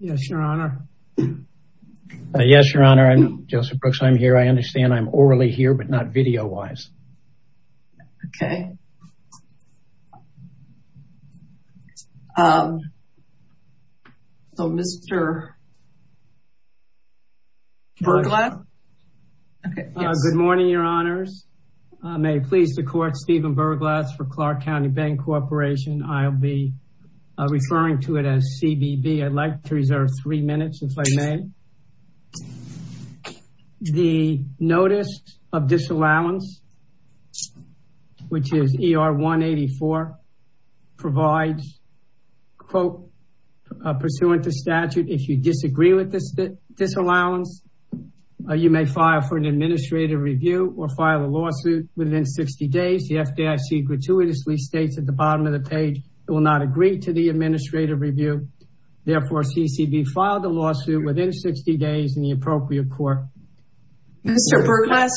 Yes, Your Honor. Yes, Your Honor. I'm Joseph Brooks. I'm here. I understand I'm orally here, but not video-wise. Okay. So, Mr. Burglatt? Good morning, Your Honors. May it please the Court, Stephen Burglatt for Clark County Bank Corporation. I'll be referring to it as CBB. I'd like to reserve three minutes, if I may. The Notice of Disallowance, which is ER 184, provides, quote, pursuant to statute, if you disagree with this disallowance, you may file for an administrative review or file a lawsuit within 60 days. The FDIC gratuitously states at the bottom of the page, it will not agree to the administrative review. Therefore, CCB filed a lawsuit within 60 days in the appropriate court. Mr. Burglatt,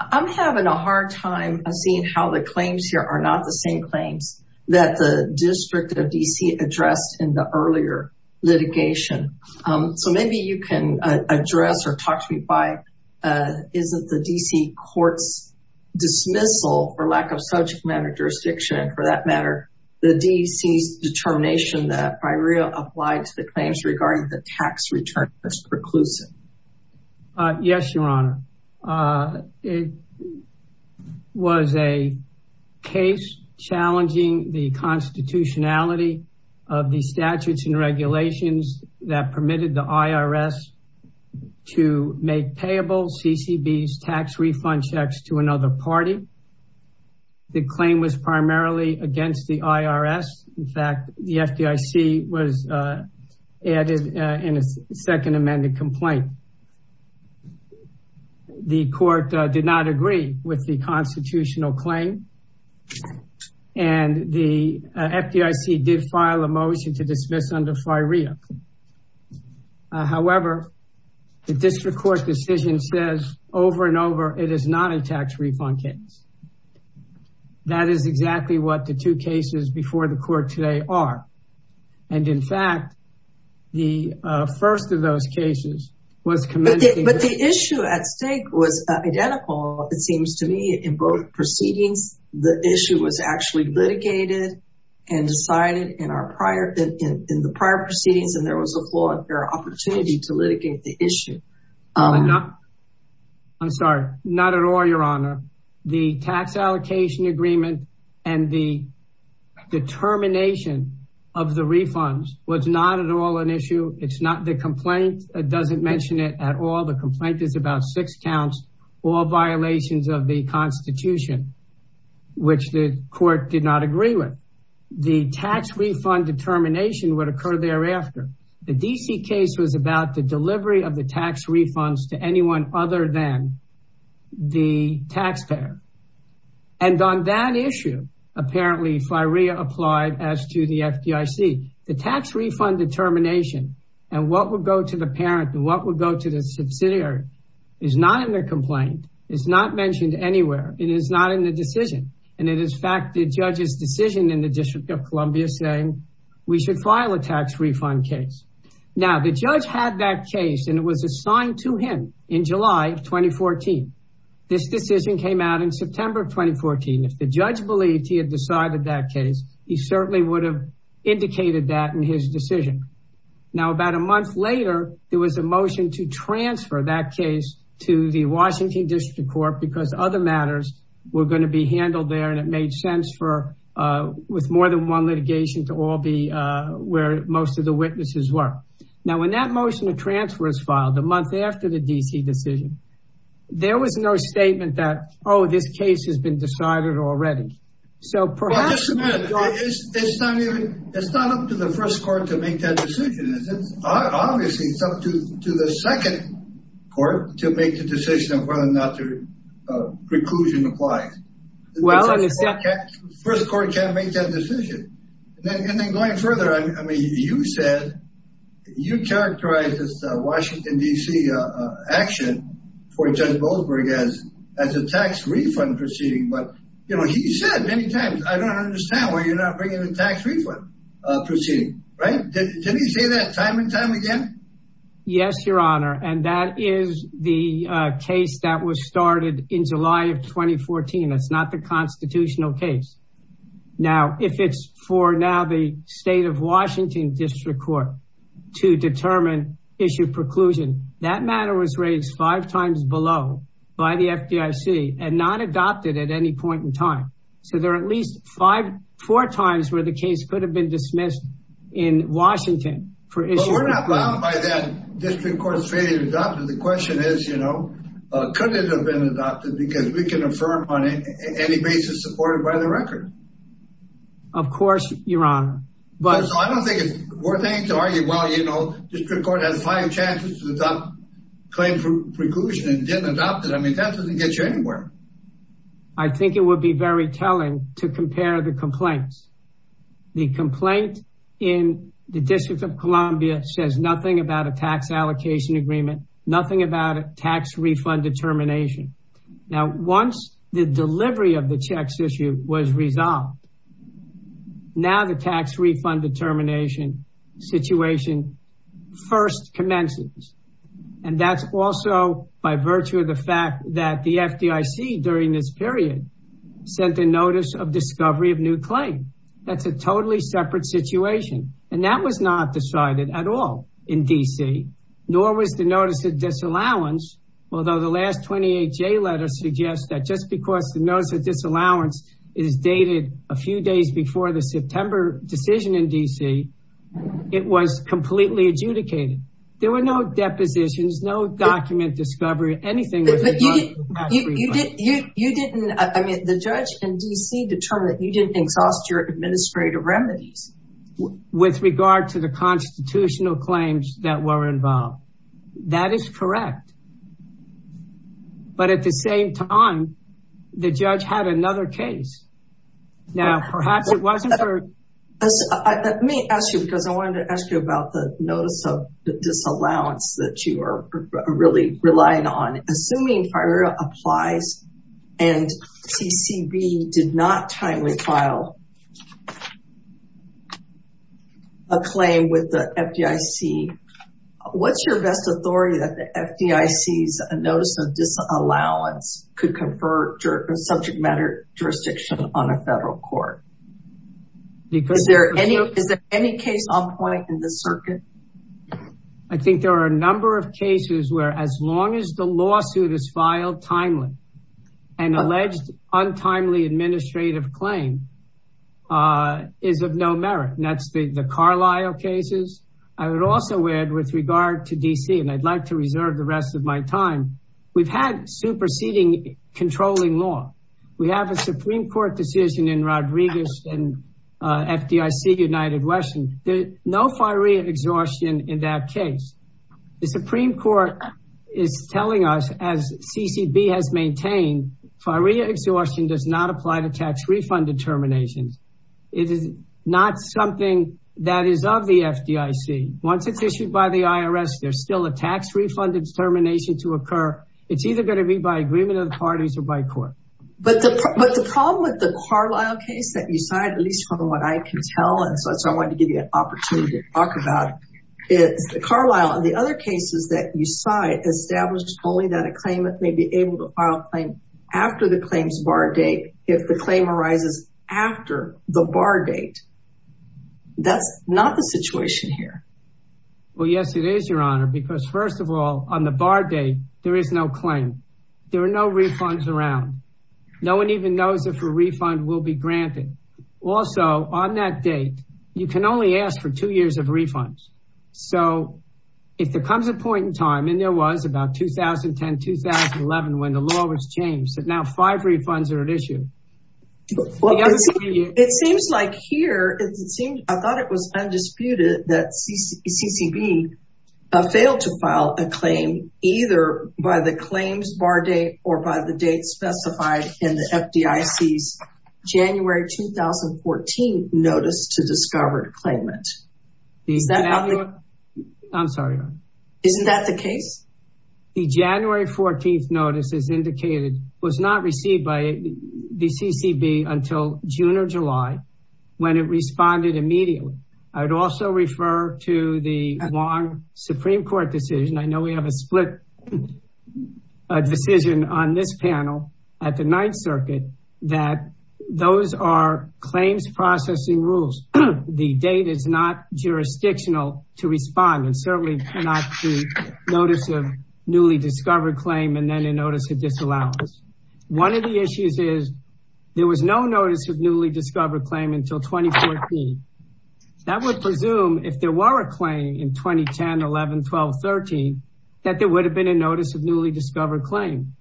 I'm having a hard time seeing how the claims here are not the same claims that the District of D.C. addressed in the earlier litigation. So maybe you can address or talk to me why isn't the D.C. court's dismissal, for lack of subject matter jurisdiction, for that matter, the D.C.'s determination that FIREA applied to the claims regarding the tax return as preclusive? Yes, Your Honor. It was a case challenging the constitutionality of the statutes and regulations that permitted the IRS to make payable CCB's tax refund checks to another party. The claim was primarily against the IRS. In fact, the FDIC was added in a second amended complaint. The court did not agree with the constitutional claim and the FDIC did file a motion to dismiss under FIREA. However, the district court decision says over and over it is not a tax refund case. That is exactly what the two cases before the court today are. And in fact, the first of those cases was commended. But the issue at stake was identical, it seems to me, in both proceedings. The issue was actually litigated and decided in the prior proceedings and there was a flawed opportunity to litigate the issue. I'm sorry, not at all, Your Honor. The tax allocation agreement and the determination of the refunds was not at all an issue. It's not the complaint, it doesn't mention it at all. The complaint is about six counts or violations of the constitution, which the court did not agree with. The tax refund determination would occur thereafter. The D.C. case was about the delivery of the tax refunds to anyone other than the taxpayer. And on that issue, apparently FIREA applied as to the FDIC. The tax refund determination and what would go to the parent and what would go to the subsidiary is not in the complaint. It's not mentioned anywhere. It is not in the decision. And it is fact the judge's decision in the District of Columbia saying we should file a tax refund case. Now, the judge had that case and it was assigned to him in July of 2014. This decision came out in September of 2014. If the judge believed he had decided that case, he certainly would have indicated that in his decision. Now, about a month later, there was a motion to transfer that case to the Washington District Court because other matters were going to be handled there. And it made sense for with more than one litigation to all be where most of the witnesses were. Now, when that motion of transfer is filed, the month after the D.C. decision, there was no statement that, oh, this case has been decided already. It's not up to the first court to make that decision. Obviously, it's up to the second court to make the decision of whether or not the preclusion applies. The first court can't make that decision. And then going further, I mean, you said you characterized this Washington, D.C. action for Judge Goldberg as a tax refund proceeding. But, you know, he said many times, I don't understand why you're not bringing a tax refund proceeding. Right. Did he say that time and time again? Yes, your honor. And that is the case that was started in July of 2014. That's not the constitutional case. Now, if it's for now the state of Washington District Court to determine issue preclusion, that matter was raised five times below by the FDIC and not adopted. At any point in time. So there are at least five, four times where the case could have been dismissed in Washington. But we're not bound by that District Court's failure to adopt it. The question is, you know, could it have been adopted because we can affirm on any basis supported by the record? Of course, your honor. But I don't think it's worth it to argue, well, you know, District Court has five chances to claim preclusion and didn't adopt it. I mean, that doesn't get you anywhere. I think it would be very telling to compare the complaints. The complaint in the District of Columbia says nothing about a tax allocation agreement, nothing about a tax refund determination. Now, once the delivery of the checks issue was resolved. Now, the tax refund determination situation first commences. And that's also by virtue of the fact that the FDIC during this period sent a notice of discovery of new claim. That's a totally separate situation. And that was not decided at all in D.C., nor was the notice of disallowance. Although the last 28 J letter suggests that just because the notice of disallowance is dated a few days before the September decision in D.C., it was completely adjudicated. There were no depositions, no document discovery. You didn't, I mean, the judge in D.C. determined that you didn't exhaust your administrative remedies. With regard to the constitutional claims that were involved. That is correct. But at the same time, the judge had another case. Let me ask you because I wanted to ask you about the notice of disallowance that you are really relying on. Assuming FIRA applies and CCB did not timely file a claim with the FDIC. What's your best authority that the FDIC's notice of disallowance could confer subject matter jurisdiction on a federal court? Is there any case on point in this circuit? I think there are a number of cases where as long as the lawsuit is filed timely and alleged untimely administrative claim is of no merit. And that's the Carlisle cases. I would also add with regard to D.C. and I'd like to reserve the rest of my time. We've had superseding controlling law. We have a Supreme Court decision in Rodriguez and FDIC United Western. No FIRA exhaustion in that case. The Supreme Court is telling us as CCB has maintained FIRA exhaustion does not apply to tax refund determinations. It is not something that is of the FDIC. Once it's issued by the IRS, there's still a tax refund determination to occur. It's either going to be by agreement of the parties or by court. But the problem with the Carlisle case that you cite, at least from what I can tell, and so I wanted to give you an opportunity to talk about it. Carlisle and the other cases that you cite established only that a claimant may be able to file a claim after the claims bar date if the claim arises after the bar date. That's not the situation here. Well, yes, it is, Your Honor, because first of all, on the bar date, there is no claim. There are no refunds around. No one even knows if a refund will be granted. Also, on that date, you can only ask for two years of refunds. So if there comes a point in time, and there was about 2010-2011 when the law was changed, that now five refunds are at issue. It seems like here, I thought it was undisputed that CCB failed to file a claim either by the claims bar date or by the date specified in the FDIC's January 2014 Notice to Discovered Claimant. I'm sorry, Your Honor. The January 14th notice, as indicated, was not received by the CCB until June or July when it responded immediately. I'd also refer to the long Supreme Court decision. I know we have a split decision on this panel at the Ninth Circuit that those are claims processing rules. The date is not jurisdictional to respond and certainly cannot be Notice of Newly Discovered Claim and then a Notice of Disallowance. One of the issues is there was no Notice of Newly Discovered Claim until 2014. That would presume if there were a claim in 2010, 11, 12, 13, that there would have been a Notice of Newly Discovered Claim,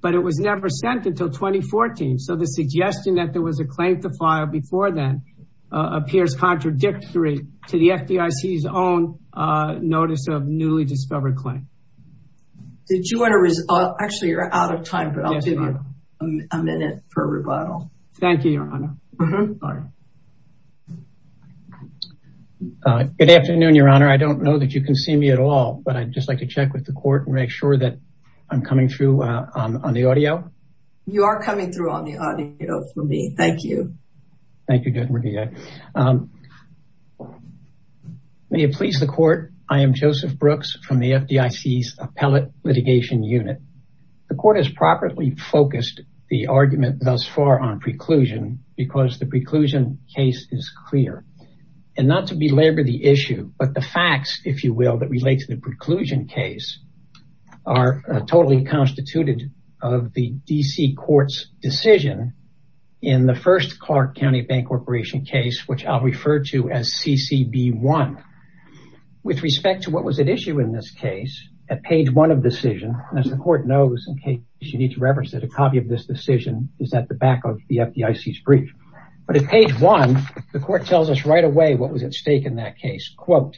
but it was never sent until 2014. So the suggestion that there was a claim to file before then appears contradictory to the FDIC's own Notice of Newly Discovered Claim. Actually, you're out of time, but I'll give you a minute for a rebuttal. Thank you, Your Honor. Good afternoon, Your Honor. I don't know that you can see me at all, but I'd just like to check with the court and make sure that I'm coming through on the audio. You are coming through on the audio for me. Thank you. Thank you, Judge Murdia. May it please the court, I am Joseph Brooks from the FDIC's Appellate Litigation Unit. The court has properly focused the argument thus far on preclusion because the preclusion case is clear. Not to belabor the issue, but the facts, if you will, that relate to the preclusion case are totally constituted of the D.C. Court's decision in the first Clark County Bank Corporation case, which I'll refer to as CCB1. With respect to what was at issue in this case, at page one of the decision, as the court knows, in case you need to reference it, a copy of this decision is at the back of the FDIC's brief. But at page one, the court tells us right away what was at stake in that case. Quote,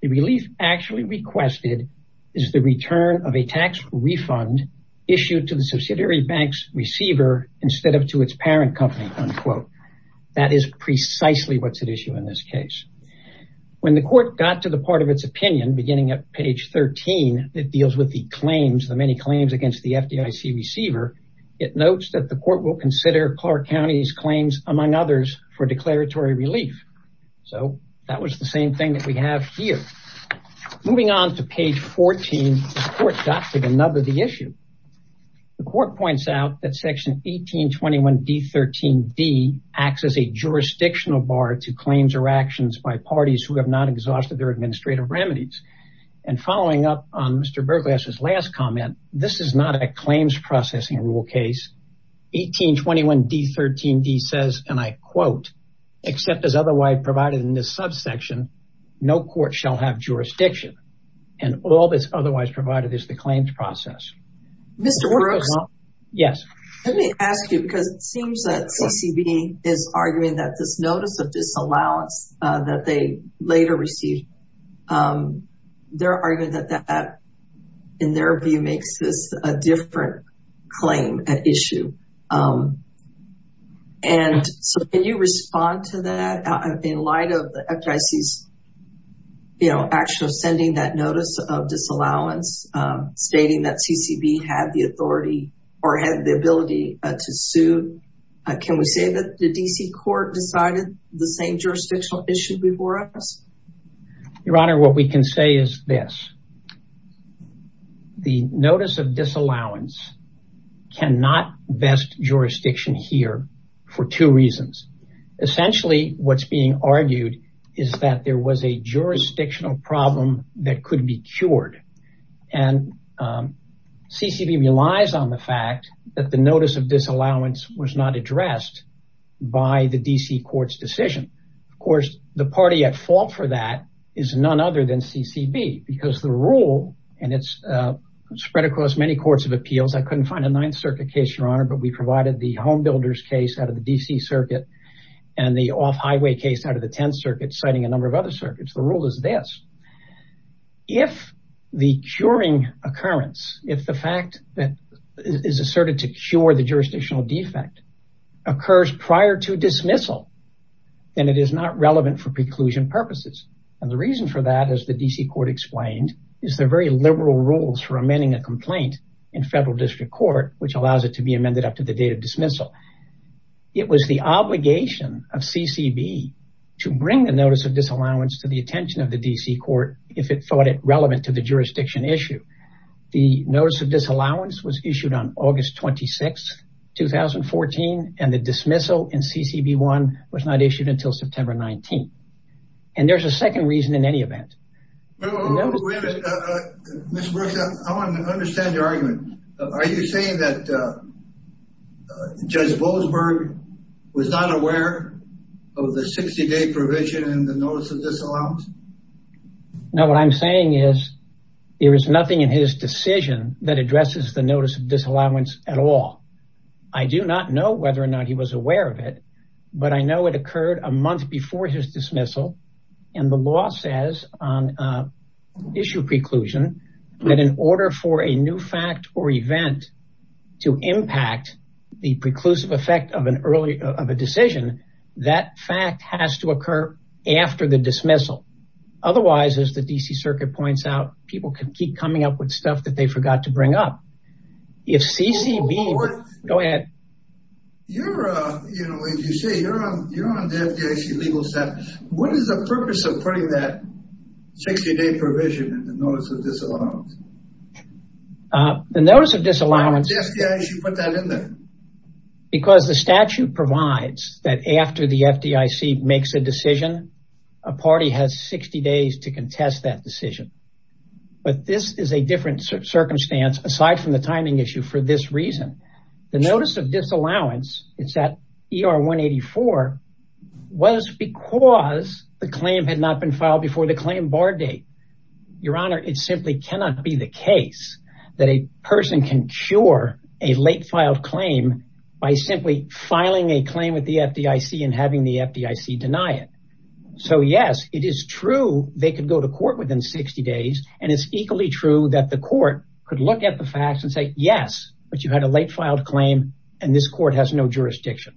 the relief actually requested is the return of a tax refund issued to the subsidiary bank's receiver instead of to its parent company, unquote. That is precisely what's at issue in this case. When the court got to the part of its opinion, beginning at page 13, it deals with the claims, the many claims against the FDIC receiver. It notes that the court will consider Clark County's claims, among others, for declaratory relief. So that was the same thing that we have here. Moving on to page 14, the court got to the nub of the issue. The court points out that section 1821D13D acts as a jurisdictional bar to claims or actions by parties who have not exhausted their administrative remedies. And following up on Mr. Berglas's last comment, this is not a claims processing rule case. 1821D13D says, and I quote, except as otherwise provided in this subsection, no court shall have jurisdiction. And all that's otherwise provided is the claims process. Mr. Brooks. Yes. Let me ask you, because it seems that CCB is arguing that this notice of disallowance that they later received, they're arguing that that, in their view, makes this a different claim at issue. And so can you respond to that in light of the FDIC's, you know, actual sending that notice of disallowance stating that CCB had the authority or had the ability to sue? Can we say that the DC court decided the same jurisdictional issue before us? Your Honor, what we can say is this. The notice of disallowance cannot vest jurisdiction here for two reasons. Essentially, what's being argued is that there was a jurisdictional problem that could be cured. And CCB relies on the fact that the notice of disallowance was not addressed by the DC court's decision. Of course, the party at fault for that is none other than CCB, because the rule, and it's spread across many courts of appeals. I couldn't find a Ninth Circuit case, Your Honor, but we provided the Home Builders case out of the DC circuit and the off-highway case out of the Tenth Circuit, citing a number of other circuits. The rule is this. If the curing occurrence, if the fact that is asserted to cure the jurisdictional defect occurs prior to dismissal, then it is not relevant for preclusion purposes. And the reason for that, as the DC court explained, is the very liberal rules for amending a complaint in federal district court, which allows it to be amended up to the date of dismissal. It was the obligation of CCB to bring the notice of disallowance to the attention of the DC court if it thought it relevant to the jurisdiction issue. The notice of disallowance was issued on August 26th, 2014, and the dismissal in CCB1 was not issued until September 19th. And there's a second reason in any event. Mr. Brooks, I want to understand your argument. Are you saying that Judge Boasberg was not aware of the 60-day provision in the notice of disallowance? No, what I'm saying is there is nothing in his decision that addresses the notice of disallowance at all. I do not know whether or not he was aware of it, but I know it occurred a month before his dismissal, and the law says on issue preclusion that in order for a new fact or event to impact the preclusive effect of a decision, that fact has to occur after the dismissal. Otherwise, as the DC circuit points out, people can keep coming up with stuff that they forgot to bring up. You're on the FDIC legal staff. What is the purpose of putting that 60-day provision in the notice of disallowance? The notice of disallowance... Why did the FDIC put that in there? Because the statute provides that after the FDIC makes a decision, a party has 60 days to contest that decision. But this is a different circumstance aside from the timing issue for this reason. The notice of disallowance, it's at ER 184, was because the claim had not been filed before the claim bar date. Your Honor, it simply cannot be the case that a person can cure a late filed claim by simply filing a claim with the FDIC and having the FDIC deny it. So yes, it is true they could go to court within 60 days. And it's equally true that the court could look at the facts and say, yes, but you had a late filed claim and this court has no jurisdiction.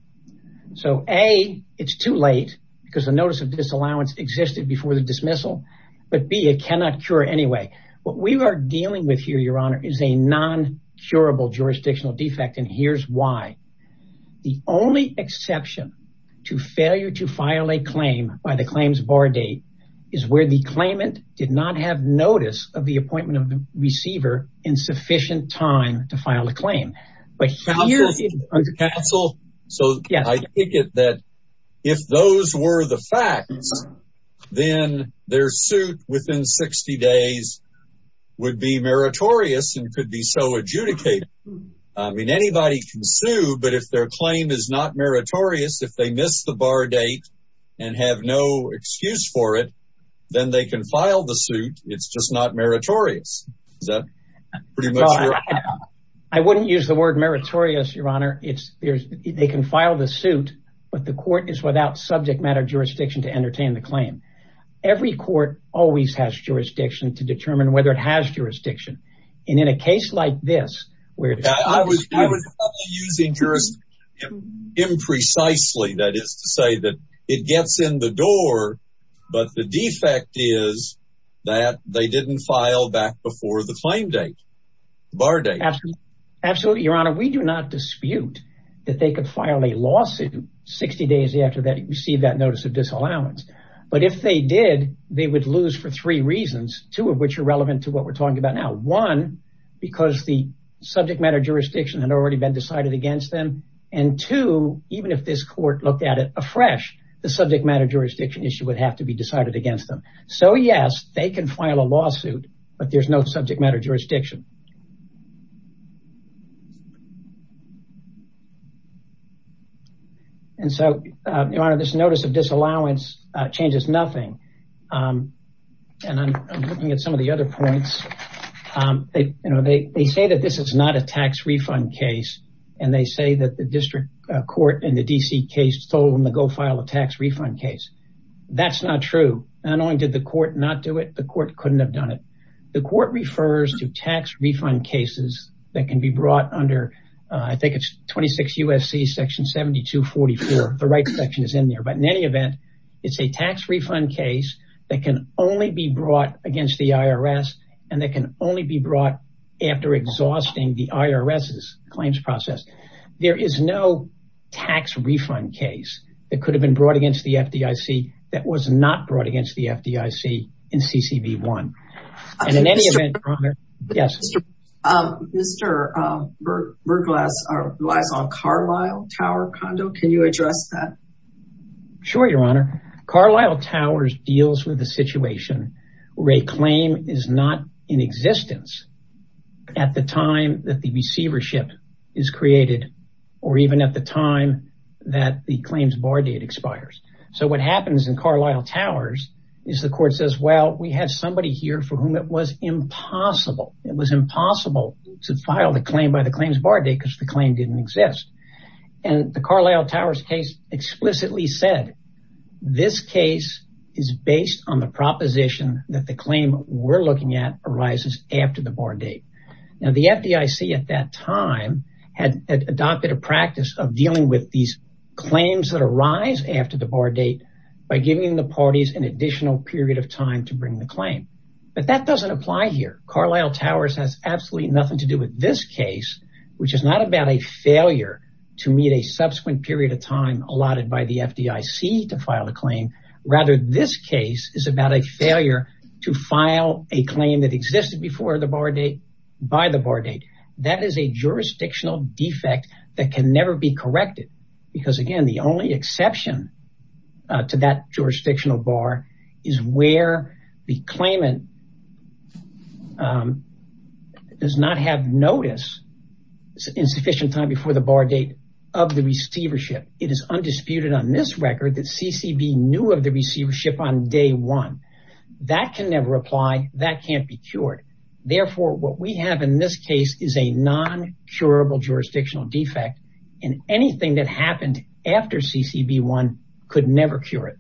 So, A, it's too late because the notice of disallowance existed before the dismissal. But B, it cannot cure anyway. What we are dealing with here, Your Honor, is a non-curable jurisdictional defect. And here's why. The only exception to failure to file a claim by the claims bar date is where the claimant did not have notice of the appointment of the receiver in sufficient time to file a claim. Counsel, so I take it that if those were the facts, then their suit within 60 days would be meritorious and could be so adjudicated. I mean, anybody can sue, but if their claim is not meritorious, if they miss the bar date and have no excuse for it, then they can file the suit. It's just not meritorious. So I wouldn't use the word meritorious, Your Honor. It's they can file the suit. But the court is without subject matter jurisdiction to entertain the claim. Every court always has jurisdiction to determine whether it has jurisdiction. And in a case like this, where I was using jurisdiction imprecisely, that is to say that it gets in the door, but the defect is that they didn't file back before the claim date, bar date. Absolutely, Your Honor. We do not dispute that they could file a lawsuit 60 days after they received that notice of disallowance. But if they did, they would lose for three reasons, two of which are relevant to what we're talking about now. One, because the subject matter jurisdiction had already been decided against them. And two, even if this court looked at it afresh, the subject matter jurisdiction issue would have to be decided against them. So, yes, they can file a lawsuit, but there's no subject matter jurisdiction. And so, Your Honor, this notice of disallowance changes nothing. And I'm looking at some of the other points. They say that this is not a tax refund case, and they say that the district court in the D.C. case told them to go file a tax refund case. That's not true. Not only did the court not do it, the court couldn't have done it. The court refers to tax refund cases that can be brought under, I think it's 26 U.S.C. section 7244. The right section is in there. But in any event, it's a tax refund case that can only be brought against the I.R.S. and that can only be brought after exhausting the I.R.S.'s claims process. There is no tax refund case that could have been brought against the F.D.I.C. that was not brought against the F.D.I.C. in C.C.B. 1. And in any event, Your Honor, yes. Mr. Burglass relies on Carlisle Tower Condo. Can you address that? Sure, Your Honor. Carlisle Tower deals with a situation where a claim is not in existence at the time that the receivership is created. Or even at the time that the claims bar date expires. So what happens in Carlisle Towers is the court says, well, we have somebody here for whom it was impossible. It was impossible to file the claim by the claims bar date because the claim didn't exist. And the Carlisle Towers case explicitly said this case is based on the proposition that the claim we're looking at arises after the bar date. Now, the F.D.I.C. at that time had adopted a practice of dealing with these claims that arise after the bar date by giving the parties an additional period of time to bring the claim. But that doesn't apply here. Carlisle Towers has absolutely nothing to do with this case, which is not about a failure to meet a subsequent period of time allotted by the F.D.I.C. to file a claim. Rather, this case is about a failure to file a claim that existed before the bar date by the bar date. That is a jurisdictional defect that can never be corrected because, again, the only exception to that jurisdictional bar is where the claimant does not have notice in sufficient time before the bar date of the receivership. It is undisputed on this record that C.C.B. knew of the receivership on day one. That can never apply. That can't be cured. Therefore, what we have in this case is a non-curable jurisdictional defect, and anything that happened after C.C.B. 1 could never cure it.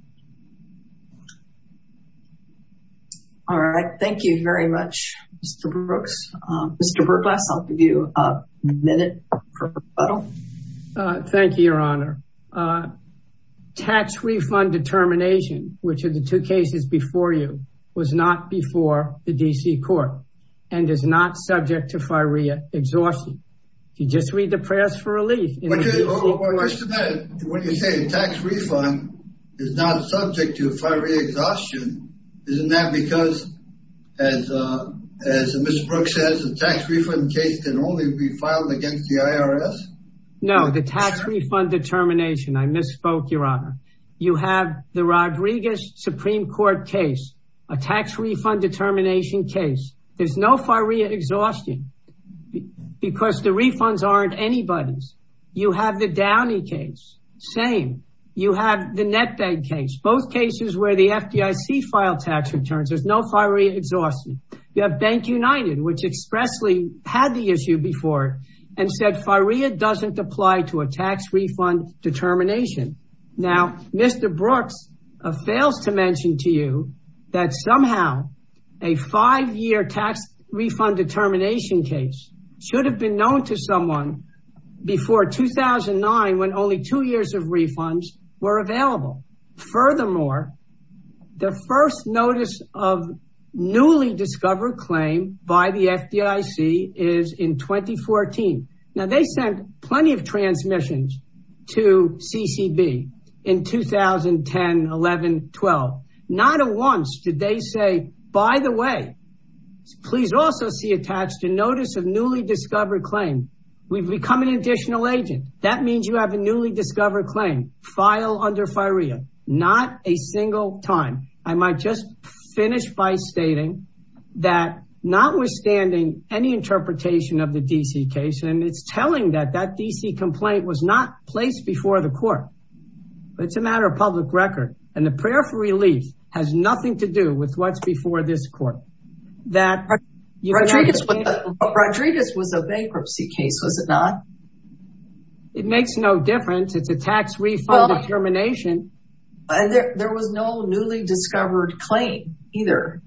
All right. Thank you very much, Mr. Brooks. Mr. Burglass, I'll give you a minute for rebuttal. Thank you, Your Honor. Tax refund determination, which are the two cases before you, was not before the D.C. court and is not subject to FIREA exhaustion. If you just read the prayers for relief in the D.C. court. When you say the tax refund is not subject to FIREA exhaustion, isn't that because, as Mr. Brooks says, the tax refund case can only be filed against the IRS? No, the tax refund determination. I misspoke, Your Honor. You have the Rodriguez Supreme Court case, a tax refund determination case. There's no FIREA exhaustion because the refunds aren't anybody's. You have the Downey case. Same. You have the Netbank case, both cases where the FDIC filed tax returns. There's no FIREA exhaustion. You have Bank United, which expressly had the issue before and said FIREA doesn't apply to a tax refund determination. Now, Mr. Brooks fails to mention to you that somehow a five-year tax refund determination case should have been known to someone before 2009 when only two years of refunds were available. Furthermore, the first notice of newly discovered claim by the FDIC is in 2014. Now, they sent plenty of transmissions to CCB in 2010, 11, 12. Not at once did they say, by the way, please also see attached a notice of newly discovered claim. We've become an additional agent. That means you have a newly discovered claim. File under FIREA. Not a single time. I might just finish by stating that notwithstanding any interpretation of the D.C. case, and it's telling that that D.C. complaint was not placed before the court. It's a matter of public record. And the prayer for relief has nothing to do with what's before this court. Rodriguez was a bankruptcy case, was it not? It makes no difference. It's a tax refund determination. There was no newly discovered claim either.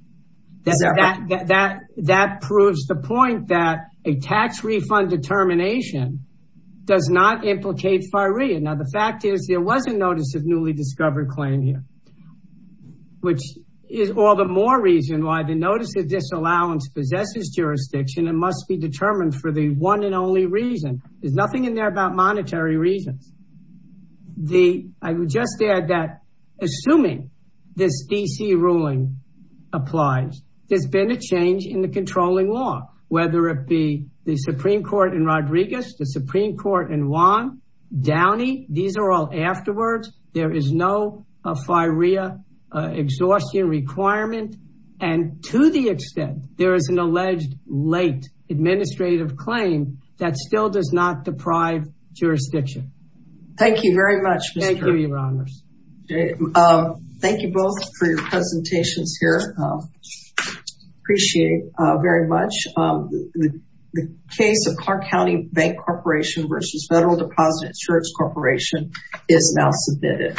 That proves the point that a tax refund determination does not implicate FIREA. Now, the fact is there was a notice of newly discovered claim here, which is all the more reason why the notice of disallowance possesses jurisdiction and must be determined for the one and only reason. There's nothing in there about monetary reasons. I would just add that assuming this D.C. ruling applies, there's been a change in the controlling law, whether it be the Supreme Court in Rodriguez, the Supreme Court in Juan, Downey. These are all afterwards. There is no FIREA exhaustion requirement. And to the extent there is an alleged late administrative claim, that still does not deprive jurisdiction. Thank you very much. Thank you, Your Honors. Thank you both for your presentations here. Appreciate it very much. The case of Clark County Bank Corporation versus Federal Deposit Insurance Corporation is now submitted.